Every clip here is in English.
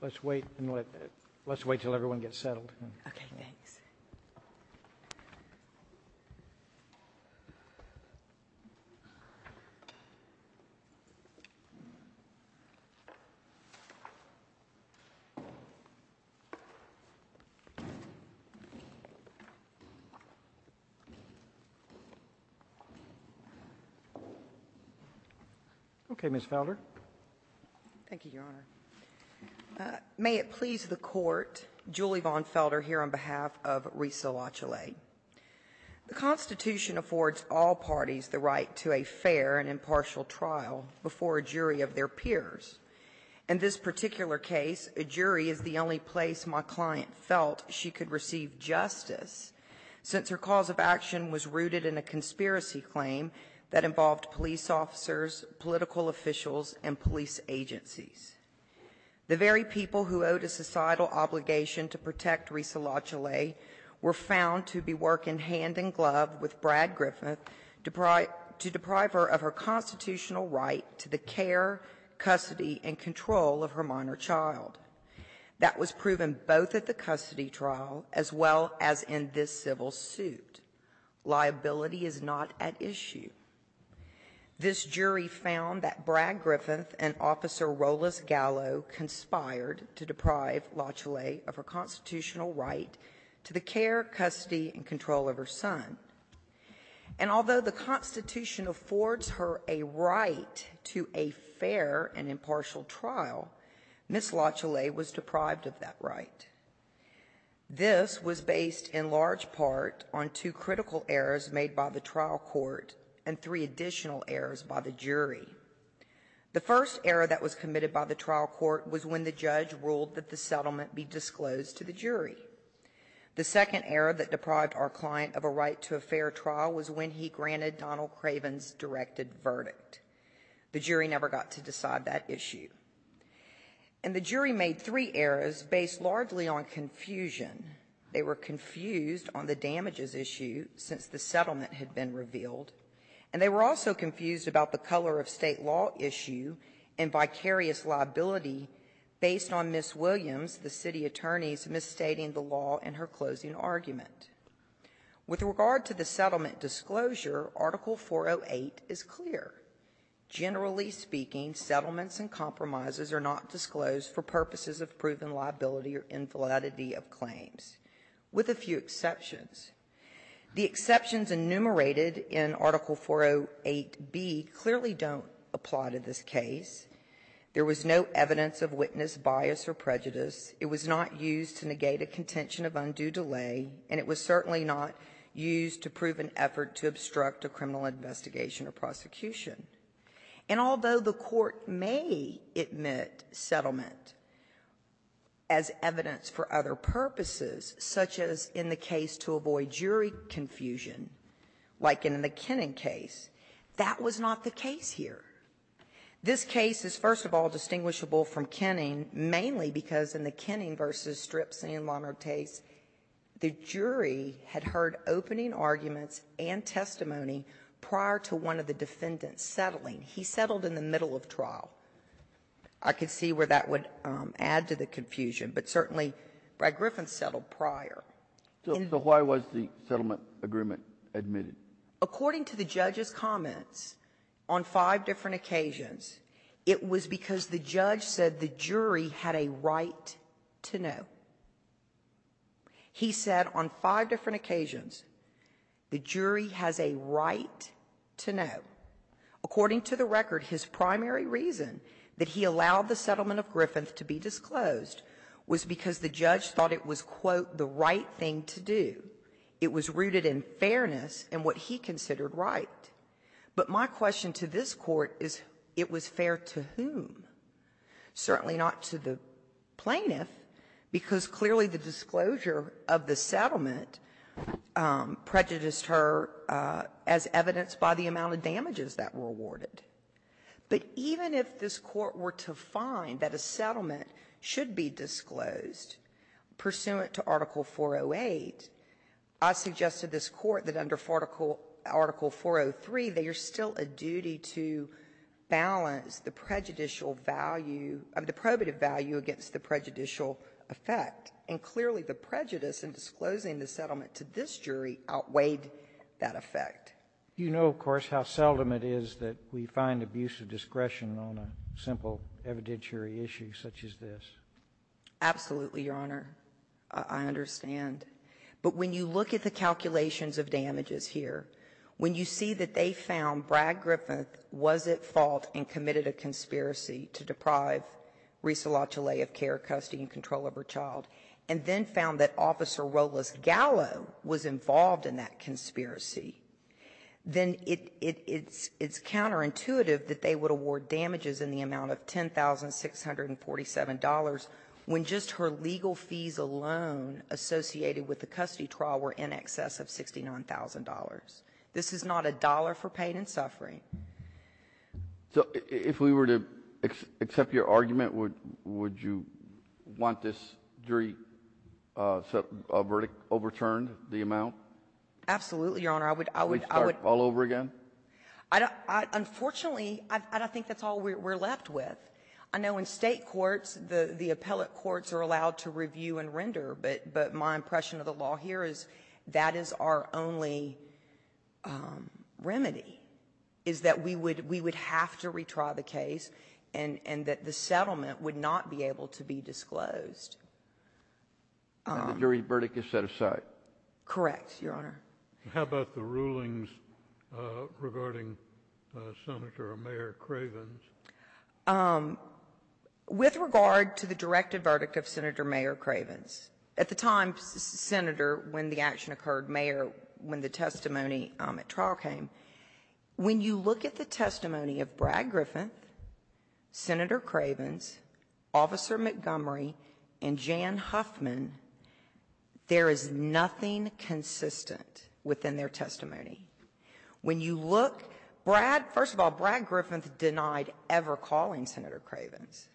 Let's wait and let let's wait till everyone gets settled. Okay, Ms. Felder. Thank you, Your Honor. May it please the Court, Julie Vaughn Felder here on behalf of Resa Latiolais. The Constitution affords all parties the right to a fair and impartial trial before a jury of their peers. In this particular case, a jury is the only place my client felt she could receive justice, since her cause of action was rooted in a conspiracy claim that involved police officers, political officials, and police agencies. The very people who owed a societal obligation to protect Resa Latiolais were found to be working hand-in-glove with Brad Griffith to deprive her of her constitutional right to the care, custody, and control of her minor child. That was proven both at the custody trial as well as in this civil suit. Liability is not at issue. This jury found that Brad Griffith and Officer Rolos Gallo conspired to deprive Latiolais of her constitutional right to the care, custody, and control of her son. And although the Constitution affords her a right to a fair and impartial trial, Ms. Latiolais was deprived of that right. This was based in large part on two critical errors made by the trial court and three additional errors by the jury. The first error that was committed by the trial court was when the judge ruled that the settlement be disclosed to the jury. The second error that deprived our client of a right to a fair trial was when he granted Donald Craven's directed verdict. The jury never got to decide that issue. And the jury made three errors based largely on confusion. They were confused on the damages issue since the settlement had been revealed. And they were also confused about the color of state law issue and vicarious liability based on Ms. Williams, the city attorney's, misstating the law in her closing argument. With regard to the settlement disclosure, Article 408 is clear. Generally speaking, settlements and compromises are not disclosed for purposes of proven liability or infidelity of claims, with a few exceptions. The exceptions enumerated in Article 408B clearly don't apply to this case. There was no evidence of witness bias or prejudice. It was not used to negate a contention of undue delay. And it was certainly not used to prove an effort to obstruct a criminal investigation or prosecution. And although the Court may admit settlement as evidence for other purposes, such as in the case to avoid jury confusion, like in the Kenning case, that was not the case here. This case is, first of all, distinguishable from Kenning, mainly because in the Kenning v. Stripes and Lamartase, the jury had heard opening arguments and testimony prior to one of the defendants settling. He settled in the middle of trial. I could see where that would add to the confusion. But certainly, Brad Griffin settled prior. So why was the settlement agreement admitted? According to the judge's comments, on five different occasions, it was because the judge said the jury had a right to know. He said on five different occasions, the jury has a right to know. According to the record, his primary reason that he allowed the settlement of Griffith to be disclosed was because the judge thought it was, quote, the right thing to do. It was rooted in fairness and what he considered right. But my question to this Court is, it was fair to whom? Certainly not to the plaintiff, because clearly the disclosure of the settlement prejudiced her as evidenced by the amount of damages that were awarded. But even if this Court were to find that a settlement should be disclosed pursuant to Article 408, I suggested this Court that under Article 403, there's still a duty to balance the prejudicial value of the probative value against the prejudicial effect. And clearly, the prejudice in disclosing the settlement to this jury outweighed that effect. You know, of course, how seldom it is that we find abuse of discretion on a simple evidentiary issue such as this. Absolutely, Your Honor. I understand. But when you look at the calculations of damages here, when you see that they found Brad Griffin was at fault and committed a conspiracy to deprive Risa LaChalet of care, custody, and control of her child, and then found that Officer Rolas Gallo was involved in that conspiracy, then it's counterintuitive that they would award damages in the amount of $10,647 when just her legal fees alone associated with the custody trial were in excess of $69,000. This is not a dollar for pain and suffering. So if we were to accept your argument, would you want this jury's verdict overturned, the amount? Absolutely, Your Honor. I would — Would it start all over again? Unfortunately, I don't think that's all we're left with. I know in State courts, the appellate courts are allowed to review and render, but my impression of the law here is that is our only remedy, is that we would have to retry the case and that the settlement would not be able to be disclosed. And the jury's verdict is set aside? Correct, Your Honor. How about the rulings regarding Senator or Mayor Cravens? With regard to the directed verdict of Senator Mayor Cravens, at the time, Senator, when the action occurred, Mayor, when the testimony at trial came, when you look at the testimony of Brad Griffin, Senator Cravens, Officer Montgomery, and Jan Huffman, there is nothing consistent within their testimony. When you look, Brad — first of all, Brad Griffin denied ever calling Senator Cravens.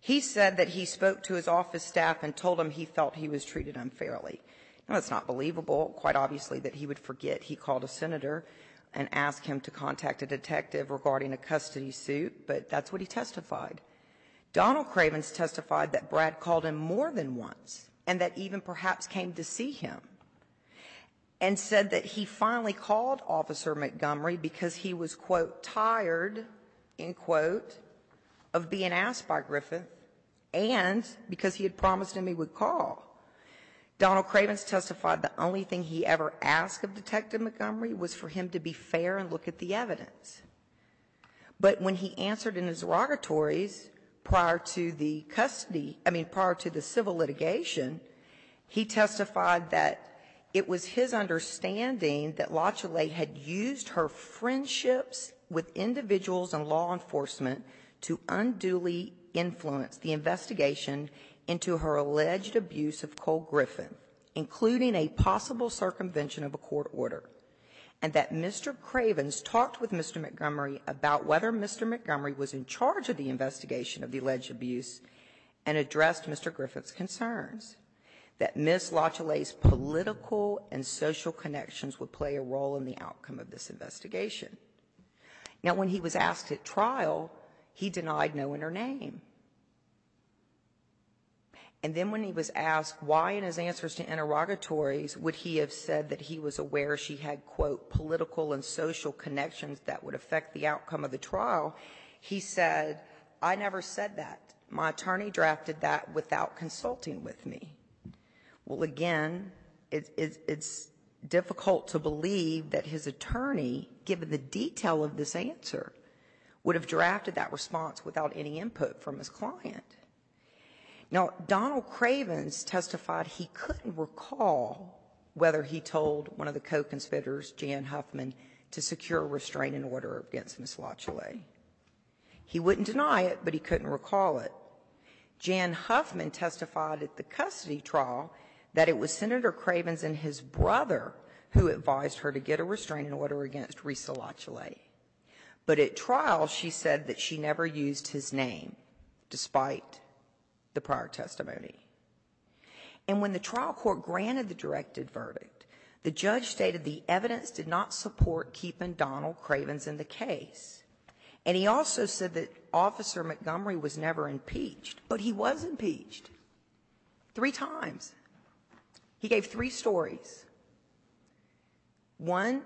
He said that he spoke to his office staff and told them he felt he was treated unfairly. Now, it's not believable, quite obviously, that he would forget he called a senator and asked him to contact a detective regarding a custody suit, but that's what he testified. Donald Cravens testified that Brad called him more than once and that even perhaps came to see him, and said that he finally called Officer Montgomery because he was, quote, tired, end quote, of being asked by Griffin, and because he had promised him he would call. Donald Cravens testified the only thing he ever asked of Detective Montgomery was for him to be fair and look at the evidence. But when he answered in his derogatories prior to the custody — I mean, prior to the custody, he testified that it was his understanding that LaChalet had used her friendships with individuals in law enforcement to unduly influence the investigation into her alleged abuse of Cole Griffin, including a possible circumvention of a court order, and that Mr. Cravens talked with Mr. Montgomery about whether Mr. Montgomery was in charge of the investigation of the alleged abuse and addressed Mr. Griffin's concerns, that Ms. LaChalet's political and social connections would play a role in the outcome of this investigation. Now, when he was asked at trial, he denied knowing her name. And then when he was asked why in his answers to interrogatories would he have said that he was aware she had, quote, political and social connections that would affect the outcome of the trial, he said, I never said that. My attorney drafted that without consulting with me. Well, again, it's difficult to believe that his attorney, given the detail of this answer, would have drafted that response without any input from his client. Now, Donald Cravens testified he couldn't recall whether he told one of the co-conspirators, Jan Huffman, to secure a restraining order against Ms. LaChalet. He wouldn't deny it, but he couldn't recall it. Jan Huffman testified at the custody trial that it was Senator Cravens and his brother who advised her to get a restraining order against Risa LaChalet. But at trial, she said that she never used his name, despite the prior testimony. And when the trial court granted the directed verdict, the judge stated the evidence did not support keeping Donald Cravens in the case. And he also said that Officer Montgomery was never impeached. But he was impeached, three times. He gave three stories. One,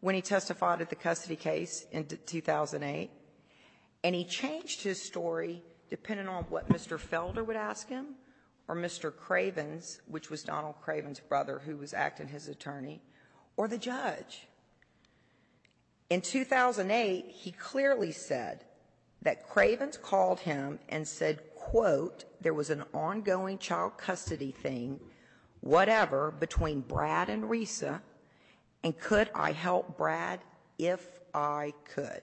when he testified at the custody case in 2008, and he changed his story depending on what Mr. Felder would ask him or Mr. Cravens, which was Donald Cravens' brother who was acting his attorney, or the judge. In 2008, he clearly said that Cravens called him and said, quote, there was an ongoing child custody thing, whatever, between Brad and Risa, and could I help Brad if I could?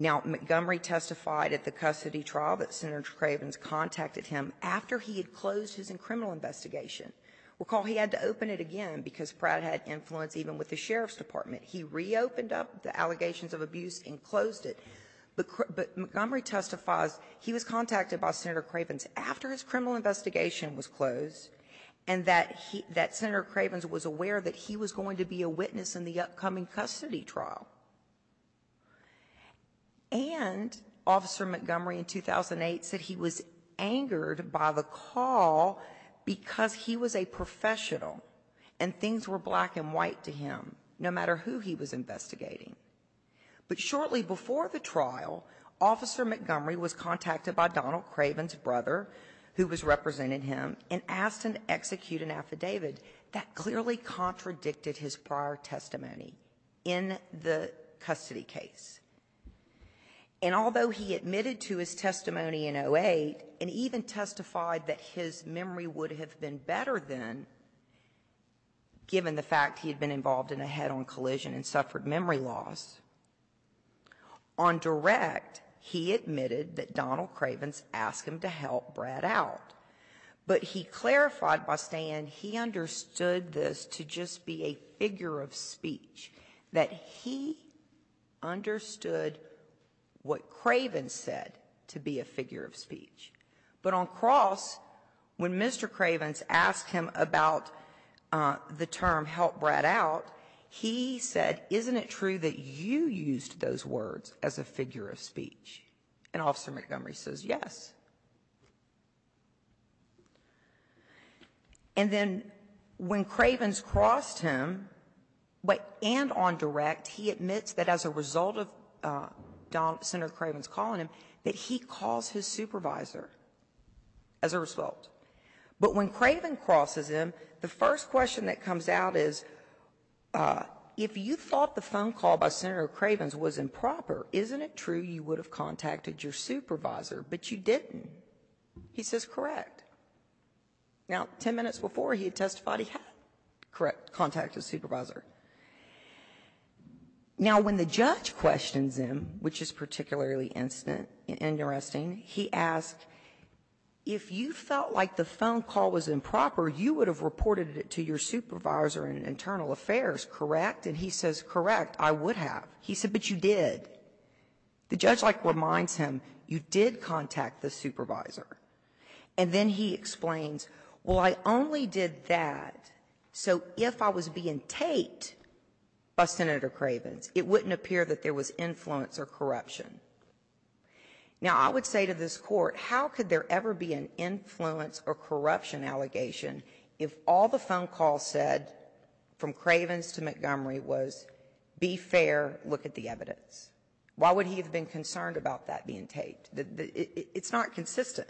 Now, Montgomery testified at the custody trial that Senator Cravens contacted him after he had closed his criminal investigation. Recall, he had to open it again because Brad had influence even with the sheriff's department. He reopened up the allegations of abuse and closed it. But Montgomery testifies he was contacted by Senator Cravens after his criminal investigation was closed, and that he — that Senator Cravens was aware that he was going to be a witness in the upcoming custody trial. And Officer Montgomery in 2008 said he was angered by the call because he was a professional, and things were black and white to him, no matter who he was investigating. But shortly before the trial, Officer Montgomery was contacted by Donald Cravens' brother, who was representing him, and asked him to execute an affidavit. And that clearly contradicted his prior testimony in the custody case. And although he admitted to his testimony in 2008 and even testified that his memory would have been better then, given the fact he had been involved in a head-on collision and suffered memory loss, on direct, he admitted that Donald Cravens asked him to help Brad out. But he clarified by saying he understood this to just be a figure of speech, that he understood what Cravens said to be a figure of speech. But on cross, when Mr. Cravens asked him about the term help Brad out, he said, isn't it true that you used those words as a figure of speech? And Officer Montgomery says, yes. And then when Cravens crossed him, but and on direct, he admits that as a result of Senator Cravens calling him, that he calls his supervisor as a result. But when Cravens crosses him, the first question that comes out is, if you thought the phone call by Senator Cravens was improper, isn't it true you would have contacted your supervisor, but you didn't? He says, correct. Now, 10 minutes before, he had testified he had, correct, contacted his supervisor. Now, when the judge questions him, which is particularly instant and interesting, he asked, if you felt like the phone call was improper, you would have reported it to your supervisor in internal affairs, correct? And he says, correct, I would have. He said, but you did. The judge, like, reminds him, you did contact the supervisor. And then he explains, well, I only did that. So if I was being taped by Senator Cravens, it wouldn't appear that there was influence or corruption. Now, I would say to this court, how could there ever be an influence or corruption allegation if all the phone calls said from Cravens to Montgomery was, be fair, look at the evidence? Why would he have been concerned about that being taped? It's not consistent.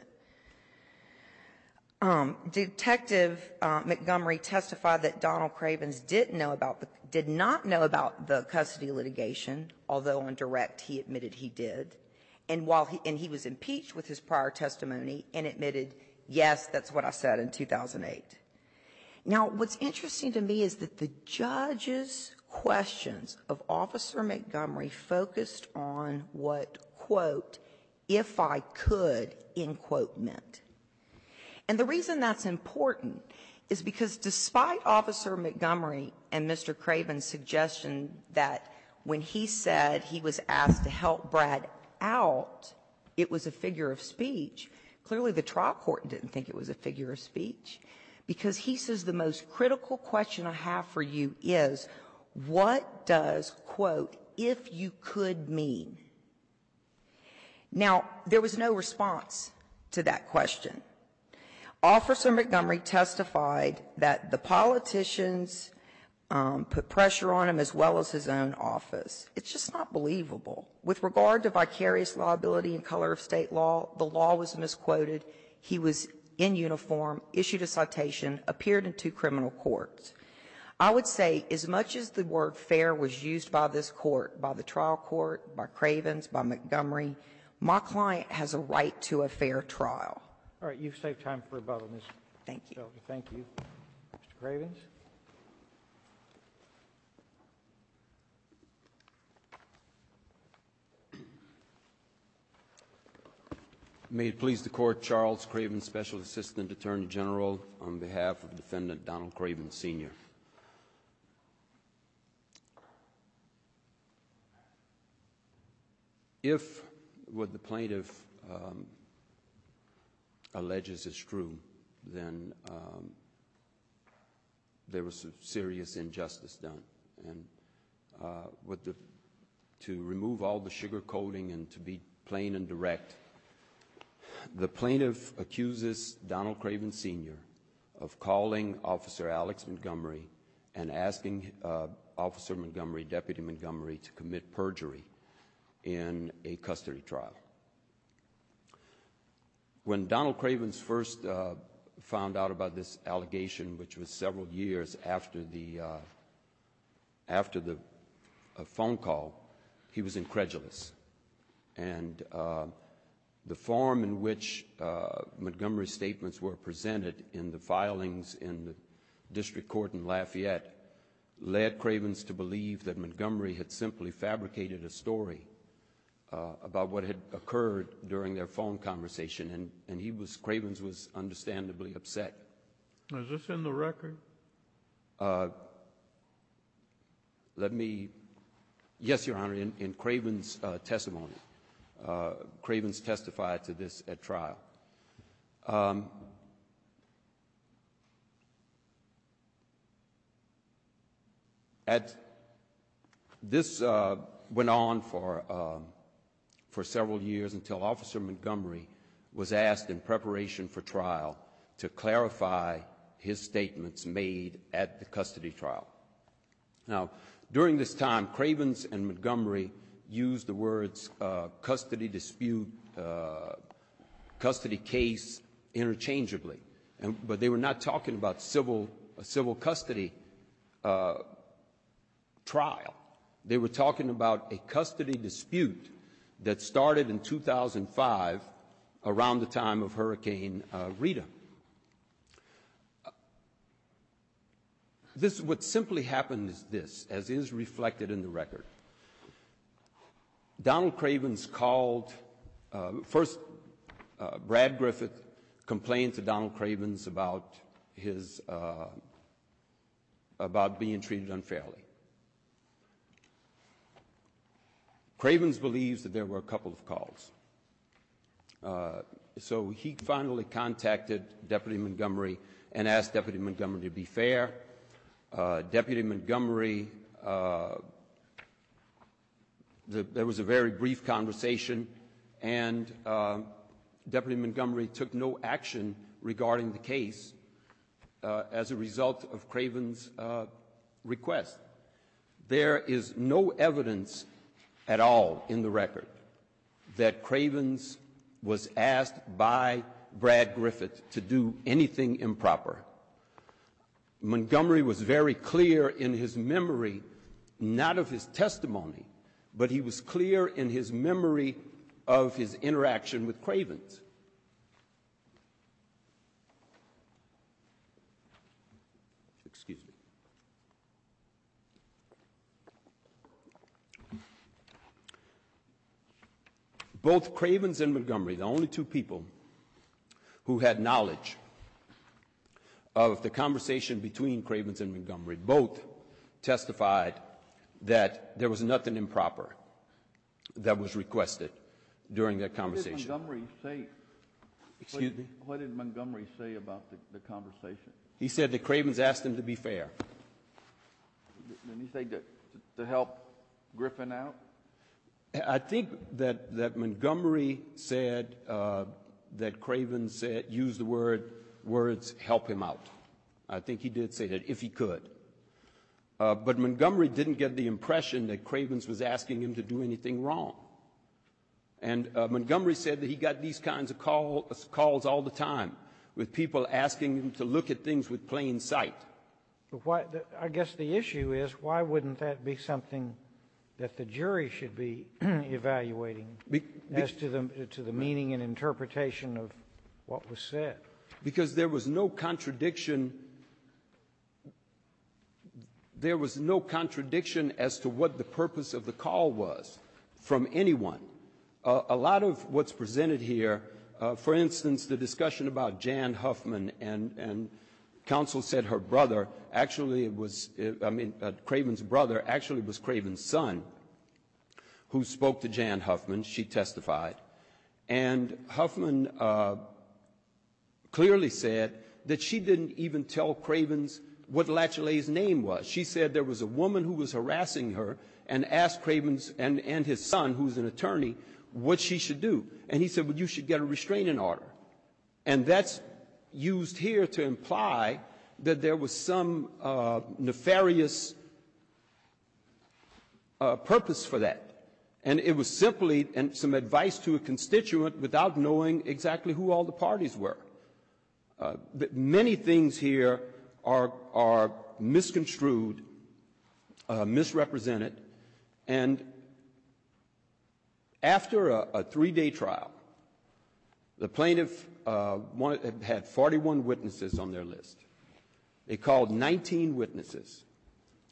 Detective Montgomery testified that Donald Cravens didn't know about the — did not know about the custody litigation, although on direct he admitted he did. And while he — and he was impeached with his prior testimony and admitted, yes, that's what I said in 2008. Now, what's interesting to me is that the judge's questions of Officer Montgomery focused on what, quote, if I could, end quote, meant. And the reason that's important is because despite Officer Montgomery and Mr. Cravens' suggestion that when he said he was asked to help Brad out, it was a figure of speech, clearly the trial court didn't think it was a figure of speech, because he says the most critical question I have for you is, what does, quote, if you could mean? Now, there was no response to that question. Officer Montgomery testified that the politicians put pressure on him as well as his own office. It's just not believable. With regard to vicarious liability in color of State law, the law was misquoted. He was in uniform, issued a citation, appeared in two criminal courts. I would say as much as the word fair was used by this Court, by the trial court, by Cravens, by Montgomery, my client has a right to a fair trial. You've saved time for rebuttal, Ms. Shelby. Thank you. Mr. Cravens. May it please the Court, Charles Cravens, Special Assistant Attorney General, on behalf of Defendant Donald Cravens, Sr. If what the plaintiff alleges is true, then there was some serious injustice done. And to remove all the sugarcoating and to be plain and direct, the plaintiff accuses Donald Cravens, Sr. of calling Officer Alex Montgomery and asking Officer Montgomery, Deputy Montgomery, to commit perjury in a custody trial. When Donald Cravens first found out about this allegation, which was several years after the phone call, he was incredulous. And the form in which Montgomery's statements were presented in the filings in the district court in Lafayette led Cravens to believe that Montgomery had simply fabricated a story about what had occurred during their phone conversation. And he was, Cravens was, understandably upset. Is this in the record? Let me. Yes, Your Honor, in Cravens' testimony, Cravens testified to this at trial. At, this went on for several years until Officer Montgomery was asked in preparation for trial to clarify his statements made at the custody trial. Now, during this time, Cravens and Montgomery used the words custody dispute, custody case interchangeably, but they were not talking about civil, a civil custody trial. They were talking about a custody dispute that started in 2005 around the time of Hurricane Rita. This, what simply happened is this, as is reflected in the record. Donald Cravens called, first Brad Griffith complained to Donald Cravens about his, about being treated unfairly. Cravens believes that there were a couple of calls. So he finally contacted Deputy Montgomery and asked Deputy Montgomery to be fair. Deputy Montgomery, there was a very brief conversation and Deputy Montgomery took no action regarding the case as a result of Cravens' request. There is no evidence at all in the record that Cravens was asked by Brad Griffith to do anything improper. Montgomery was very clear in his memory, not of his testimony, but he was clear in his memory of his interaction with Cravens. Both Cravens and Montgomery, the only two people who had knowledge of the conversation between Cravens and Montgomery, both testified that there was nothing improper that was requested during that conversation. What did Montgomery say about the conversation? He said that Cravens asked him to be fair. Did he say to help Griffith out? I think that Montgomery said that Cravens used the words, help him out. I think he did say that, if he could. But Montgomery didn't get the impression that Cravens was asking him to do anything wrong. And Montgomery said that he got these kinds of calls all the time, with people asking him to look at things with plain sight. But why the — I guess the issue is, why wouldn't that be something that the jury should be evaluating as to the meaning and interpretation of what was said? Because there was no contradiction — there was no contradiction as to what the purpose of the call was from anyone. A lot of what's presented here — for instance, the discussion about Jan Huffman, and counsel said her brother actually was — I mean, Cravens' brother actually was Cravens' son, who spoke to Jan Huffman, she testified. And Huffman clearly said that she didn't even tell Cravens what Latchley's name was. She said there was a woman who was harassing her, and asked Cravens and his son, who's an attorney, what she should do. And he said, well, you should get a restraining order. And that's used here to imply that there was some nefarious purpose for that. And it was simply some advice to a constituent without knowing exactly who all the parties were. Many things here are misconstrued, misrepresented. And after a three-day trial, the plaintiff had 41 witnesses on their list. They called 19 witnesses.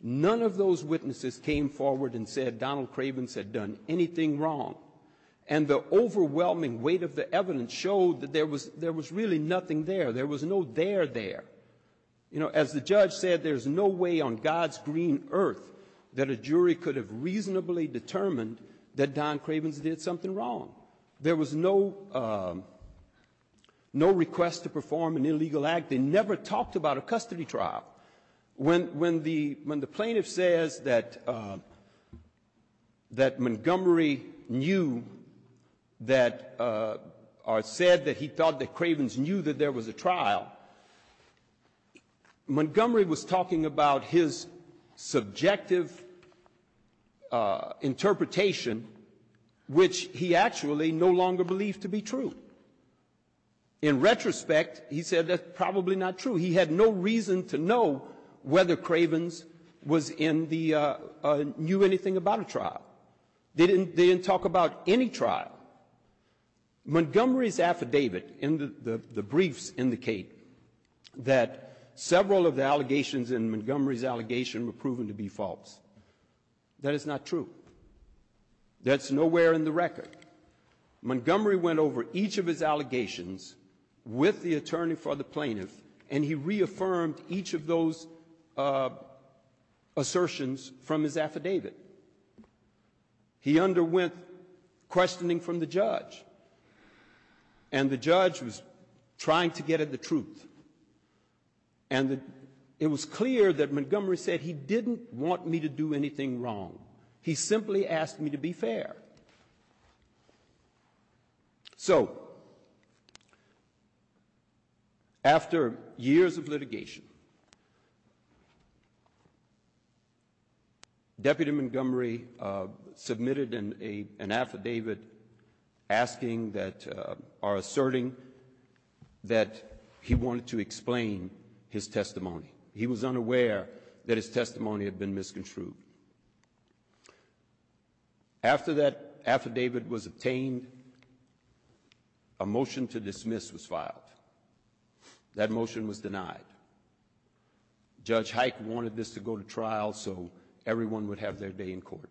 None of those witnesses came forward and said Donald Cravens had done anything wrong. And the overwhelming weight of the evidence showed that there was really nothing there. There was no there there. You know, as the judge said, there's no way on God's green earth that a jury could have reasonably determined that Don Cravens did something wrong. There was no request to perform an illegal act. They never talked about a custody trial. When the plaintiff says that Montgomery knew that or said that he thought that Cravens knew that there was a trial, Montgomery was talking about his subjective interpretation, which he actually no longer believed to be true. In retrospect, he said that's probably not true. He had no reason to know whether Cravens knew anything about a trial. They didn't talk about any trial. Montgomery's affidavit in the briefs indicate that several of the allegations in Montgomery's allegation were proven to be false. That is not true. That's nowhere in the record. Montgomery went over each of his allegations with the attorney for the plaintiff, and he reaffirmed each of those assertions from his affidavit. He underwent questioning from the judge, and the judge was trying to get at the truth. And it was clear that Montgomery said he didn't want me to do anything wrong. So, after years of litigation, Deputy Montgomery submitted an affidavit asking that or asserting that he wanted to explain his testimony. He was unaware that his testimony had been misconstrued. After that affidavit was obtained, a motion to dismiss was filed. That motion was denied. Judge Hike wanted this to go to trial so everyone would have their day in court.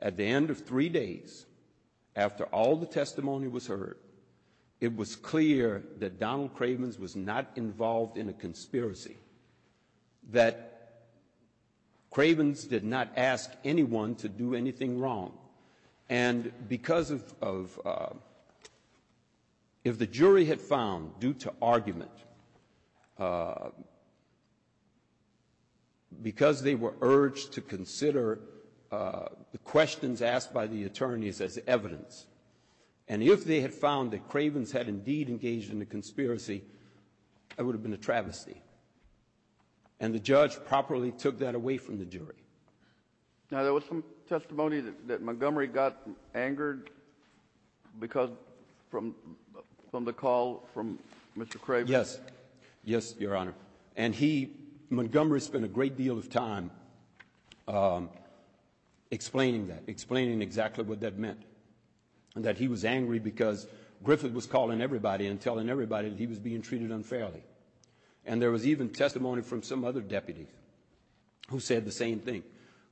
At the end of three days, after all the testimony was heard, it was clear that Donald Cravens was not involved in a conspiracy, that Cravens did not ask anyone to do anything wrong. And because of — if the jury had found, due to argument, because they were urged to consider the questions asked by the attorneys as evidence, and if they had found that Cravens had indeed engaged in a conspiracy, it would have been a travesty. And the judge properly took that away from the jury. Now, there was some testimony that Montgomery got angered because — from the call from Mr. Cravens. Yes. Yes, Your Honor. And he — Montgomery spent a great deal of time explaining that, explaining exactly what that was, that he was angry because Griffith was calling everybody and telling everybody that he was being treated unfairly. And there was even testimony from some other deputies who said the same thing.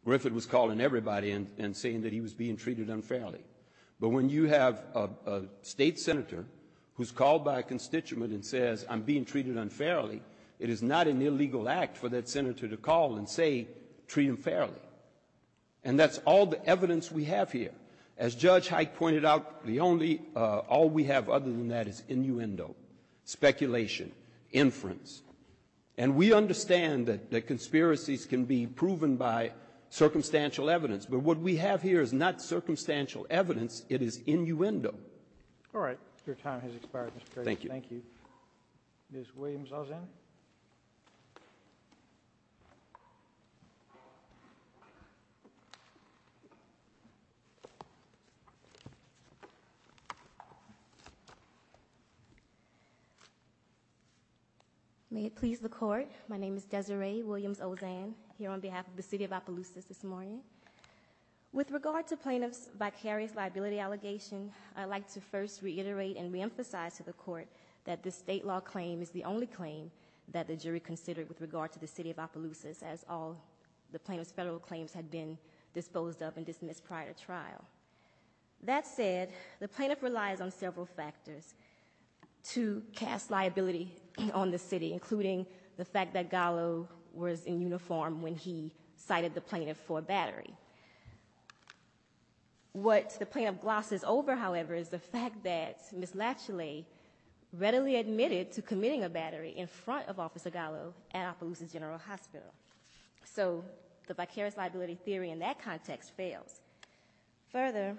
Griffith was calling everybody and saying that he was being treated unfairly. But when you have a state senator who's called by a constituent and says, I'm being treated unfairly, it is not an illegal act for that senator to call and say, treat him fairly. And that's all the evidence we have here. As Judge Hite pointed out, the only — all we have other than that is innuendo, speculation, inference. And we understand that conspiracies can be proven by circumstantial evidence. But what we have here is not circumstantial evidence. It is innuendo. All right. Your time has expired, Mr. Cravens. Thank you. Thank you. Ms. Williams-Lozan. May it please the Court, my name is Desiree Williams-Lozan, here on behalf of the City of Opelousas this morning. With regard to plaintiff's vicarious liability allegation, I'd like to first reiterate and reemphasize to the Court that this state law claim is the only claim that the jury considered with regard to the City of Opelousas, as all the plaintiff's federal claims had been disposed of and dismissed prior to trial. That said, the plaintiff relies on several factors to cast liability on the City, including the fact that Gallo was in uniform when he cited the plaintiff for a battery. What the plaintiff glosses over, however, is the fact that Ms. Lachele readily admitted to committing a battery in front of Officer Gallo at Opelousas General Hospital. So the vicarious liability theory in that context fails. Further,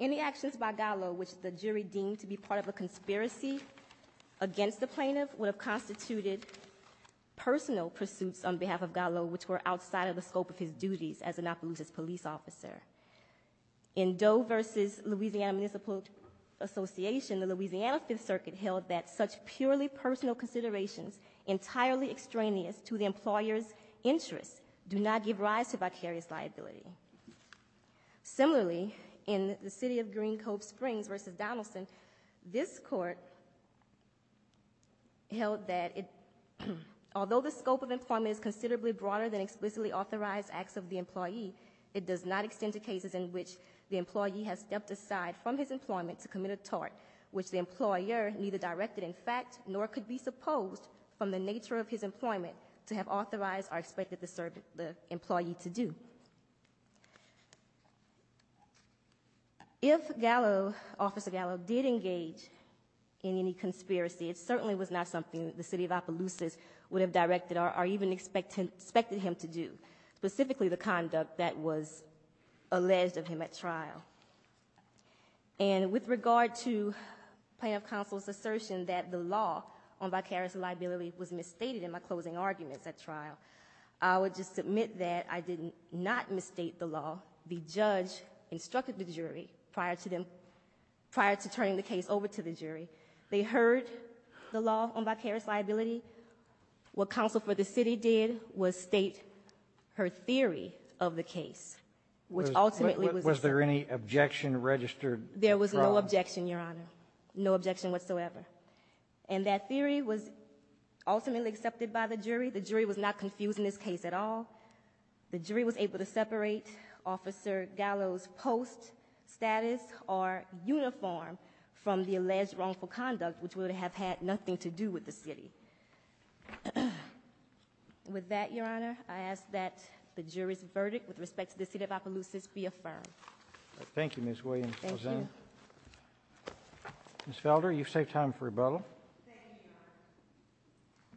any actions by Gallo which the jury deemed to be part of a conspiracy against the plaintiff would have constituted personal pursuits on behalf of Gallo which were outside of the scope of his duties as an Opelousas police officer. In Doe v. Louisiana Municipal Association, the Louisiana Fifth Circuit held that such purely personal considerations entirely extraneous to the employer's interests do not give rise to vicarious liability. Similarly, in the City of Green Cove Springs v. Donaldson, this court held that although the scope of employment is considerably broader than explicitly authorized acts of the employee, it does not extend to cases in which the employee has stepped aside from his employment to commit a tort which the employer neither directed in fact nor could be supposed from the nature of his employment to have authorized or expected the employee to do. If Gallo, Officer Gallo, did engage in any conspiracy, it certainly was not something that the City of Opelousas would have directed or even expected him to do, specifically the conduct that was alleged of him at trial. And with regard to plaintiff counsel's assertion that the law on vicarious liability was misstated in my closing arguments at trial, I would just submit that I did not misstate the law. The judge instructed the jury prior to them, prior to turning the case over to the jury. They heard the law on vicarious liability. What counsel for the City did was state her theory of the case, which ultimately was the same. Was there any objection registered? There was no objection, Your Honor. No objection whatsoever. And that theory was ultimately accepted by the jury. The jury was not confused in this case at all. The jury was able to separate Officer Gallo's post, status, or uniform from the alleged wrongful conduct, which would have had nothing to do with the City. With that, Your Honor, I ask that the jury's verdict with respect to the City of Opelousas be affirmed. Thank you, Ms. Williams. Thank you. Ms. Felder, you've saved time for rebuttal. Thank you,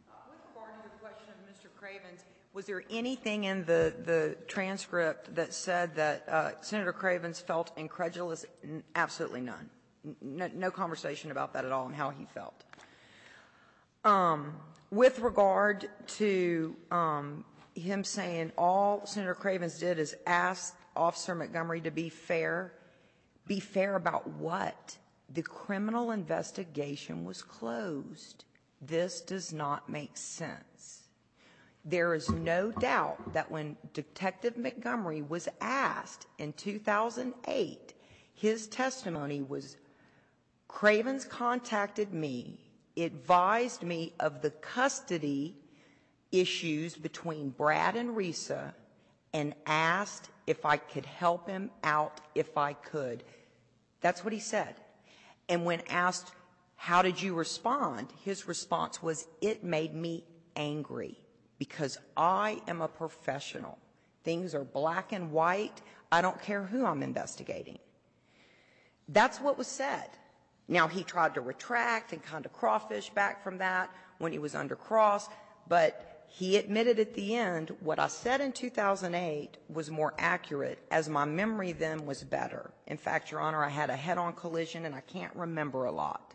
Your Honor. With regard to the question of Mr. Cravens, was there anything in the transcript that said that Senator Cravens felt incredulous? Absolutely none. No conversation about that at all and how he felt. With regard to him saying all Senator Cravens did is ask Officer Montgomery to be fair about what, the criminal investigation was closed, this does not make sense. There is no doubt that when Detective Montgomery was asked in 2008, his testimony was, Cravens contacted me, advised me of the custody issues between Brad and Risa, and asked if I could help him out if I could. That's what he said. And when asked, how did you respond, his response was, it made me angry because I am a professional. Things are black and white. I don't care who I'm investigating. That's what was said. Now, he tried to retract and kind of crawfish back from that when he was under cross, but he admitted at the end what I said in 2008 was more accurate as my memory then was better. In fact, Your Honor, I had a head-on collision, and I can't remember a lot.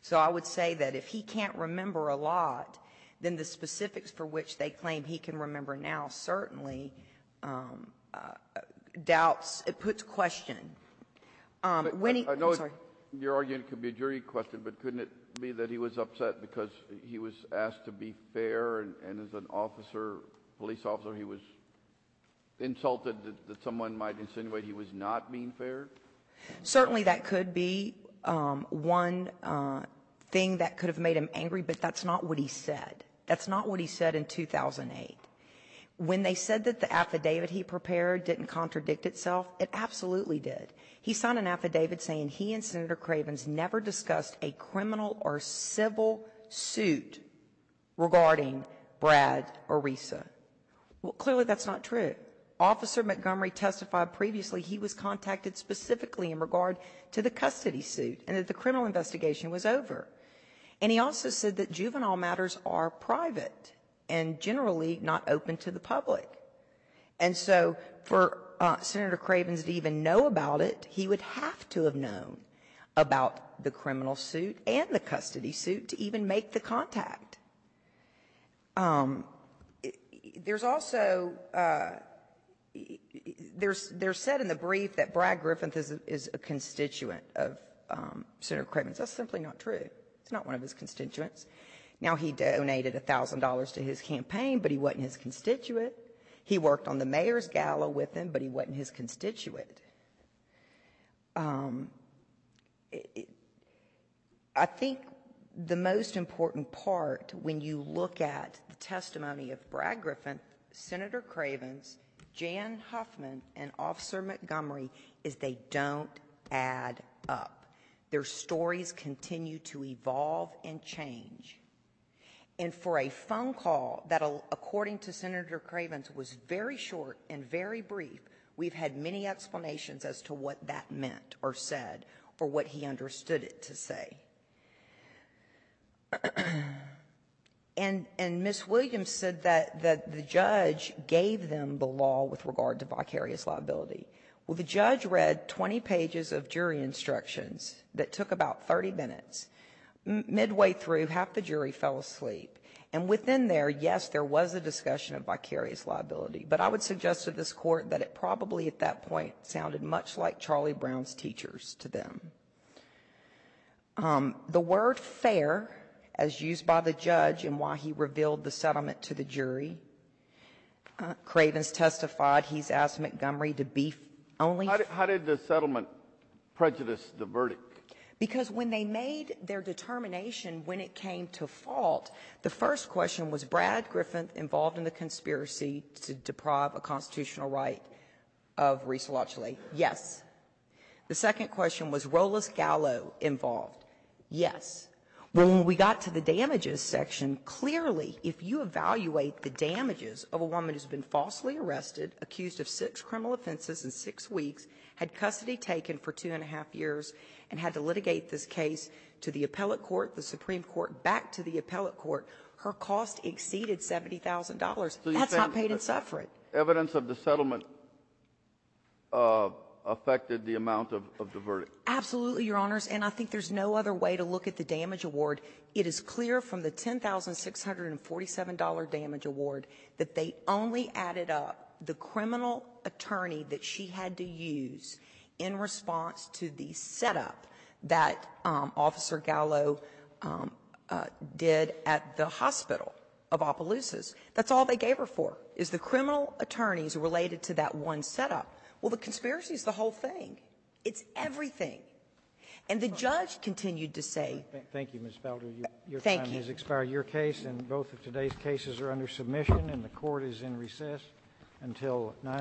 So I would say that if he can't remember a lot, then the specifics for which they claim he can remember now certainly doubts or puts question. When he — I know your argument could be a jury question, but couldn't it be that he was upset because he was asked to be fair, and as an officer, police officer, he was insulted that someone might insinuate he was not being fair? Certainly, that could be one thing that could have made him angry, but that's not what he said. That's not what he said in 2008. When they said that the affidavit he prepared didn't contradict itself, it absolutely did. He signed an affidavit saying he and Senator Cravens never discussed a criminal or civil suit regarding Brad Orisa. Well, clearly that's not true. Officer Montgomery testified previously he was contacted specifically in regard to the custody suit and that the criminal investigation was over. And he also said that juvenile matters are private and generally not open to the public. And so for Senator Cravens to even know about it, he would have to have known about the criminal suit and the custody suit to even make the contact. There's also, there's said in the brief that Brad Griffith is a constituent of Senator Cravens. That's simply not true. He's not one of his constituents. Now, he donated $1,000 to his campaign, but he wasn't his constituent. He worked on the Mayor's Gala with him, but he wasn't his constituent. I think the most important part when you look at the testimony of Brad Griffith, Senator Cravens, Jan Huffman, and Officer Montgomery is they don't add up. Their stories continue to evolve and change. And for a phone call that, according to Senator Cravens, was very short and very brief, there were no explanations as to what that meant or said or what he understood it to say. And Ms. Williams said that the judge gave them the law with regard to vicarious liability. Well, the judge read 20 pages of jury instructions that took about 30 minutes. Midway through, half the jury fell asleep. And within there, yes, there was a discussion of vicarious liability. But I would suggest to this Court that it probably at that point sounded much like Charlie Brown's teachers to them. The word fair, as used by the judge in why he revealed the settlement to the jury, Cravens testified he's asked Montgomery to beef only the verdict. Kennedy, how did the settlement prejudice the verdict? Because when they made their determination when it came to fault, the first question was, was Brad Griffin involved in the conspiracy to deprive a constitutional right of Reese Lauchley? Yes. The second question was, was Rolos Gallo involved? Yes. When we got to the damages section, clearly, if you evaluate the damages of a woman who's been falsely arrested, accused of six criminal offenses in six weeks, had custody taken for two and a half years, and had to litigate this case to the appellate court, the Supreme Court, back to the appellate court, her cost exceeded $70,000. That's not paid in suffrage. Evidence of the settlement affected the amount of the verdict. Absolutely, Your Honors. And I think there's no other way to look at the damage award. It is clear from the $10,647 damage award that they only added up the criminal attorney that she had to use in response to the setup that Officer Gallo did at the hospital of Opelousas. That's all they gave her for, is the criminal attorneys related to that one setup. Well, the conspiracy is the whole thing. It's everything. And the judge continued to say that the attorney was not involved in the case. Thank you, Ms. Felder. Thank you. Your time has expired. Your case and both of today's cases are under submission, and the Court is in recess until 9 o'clock.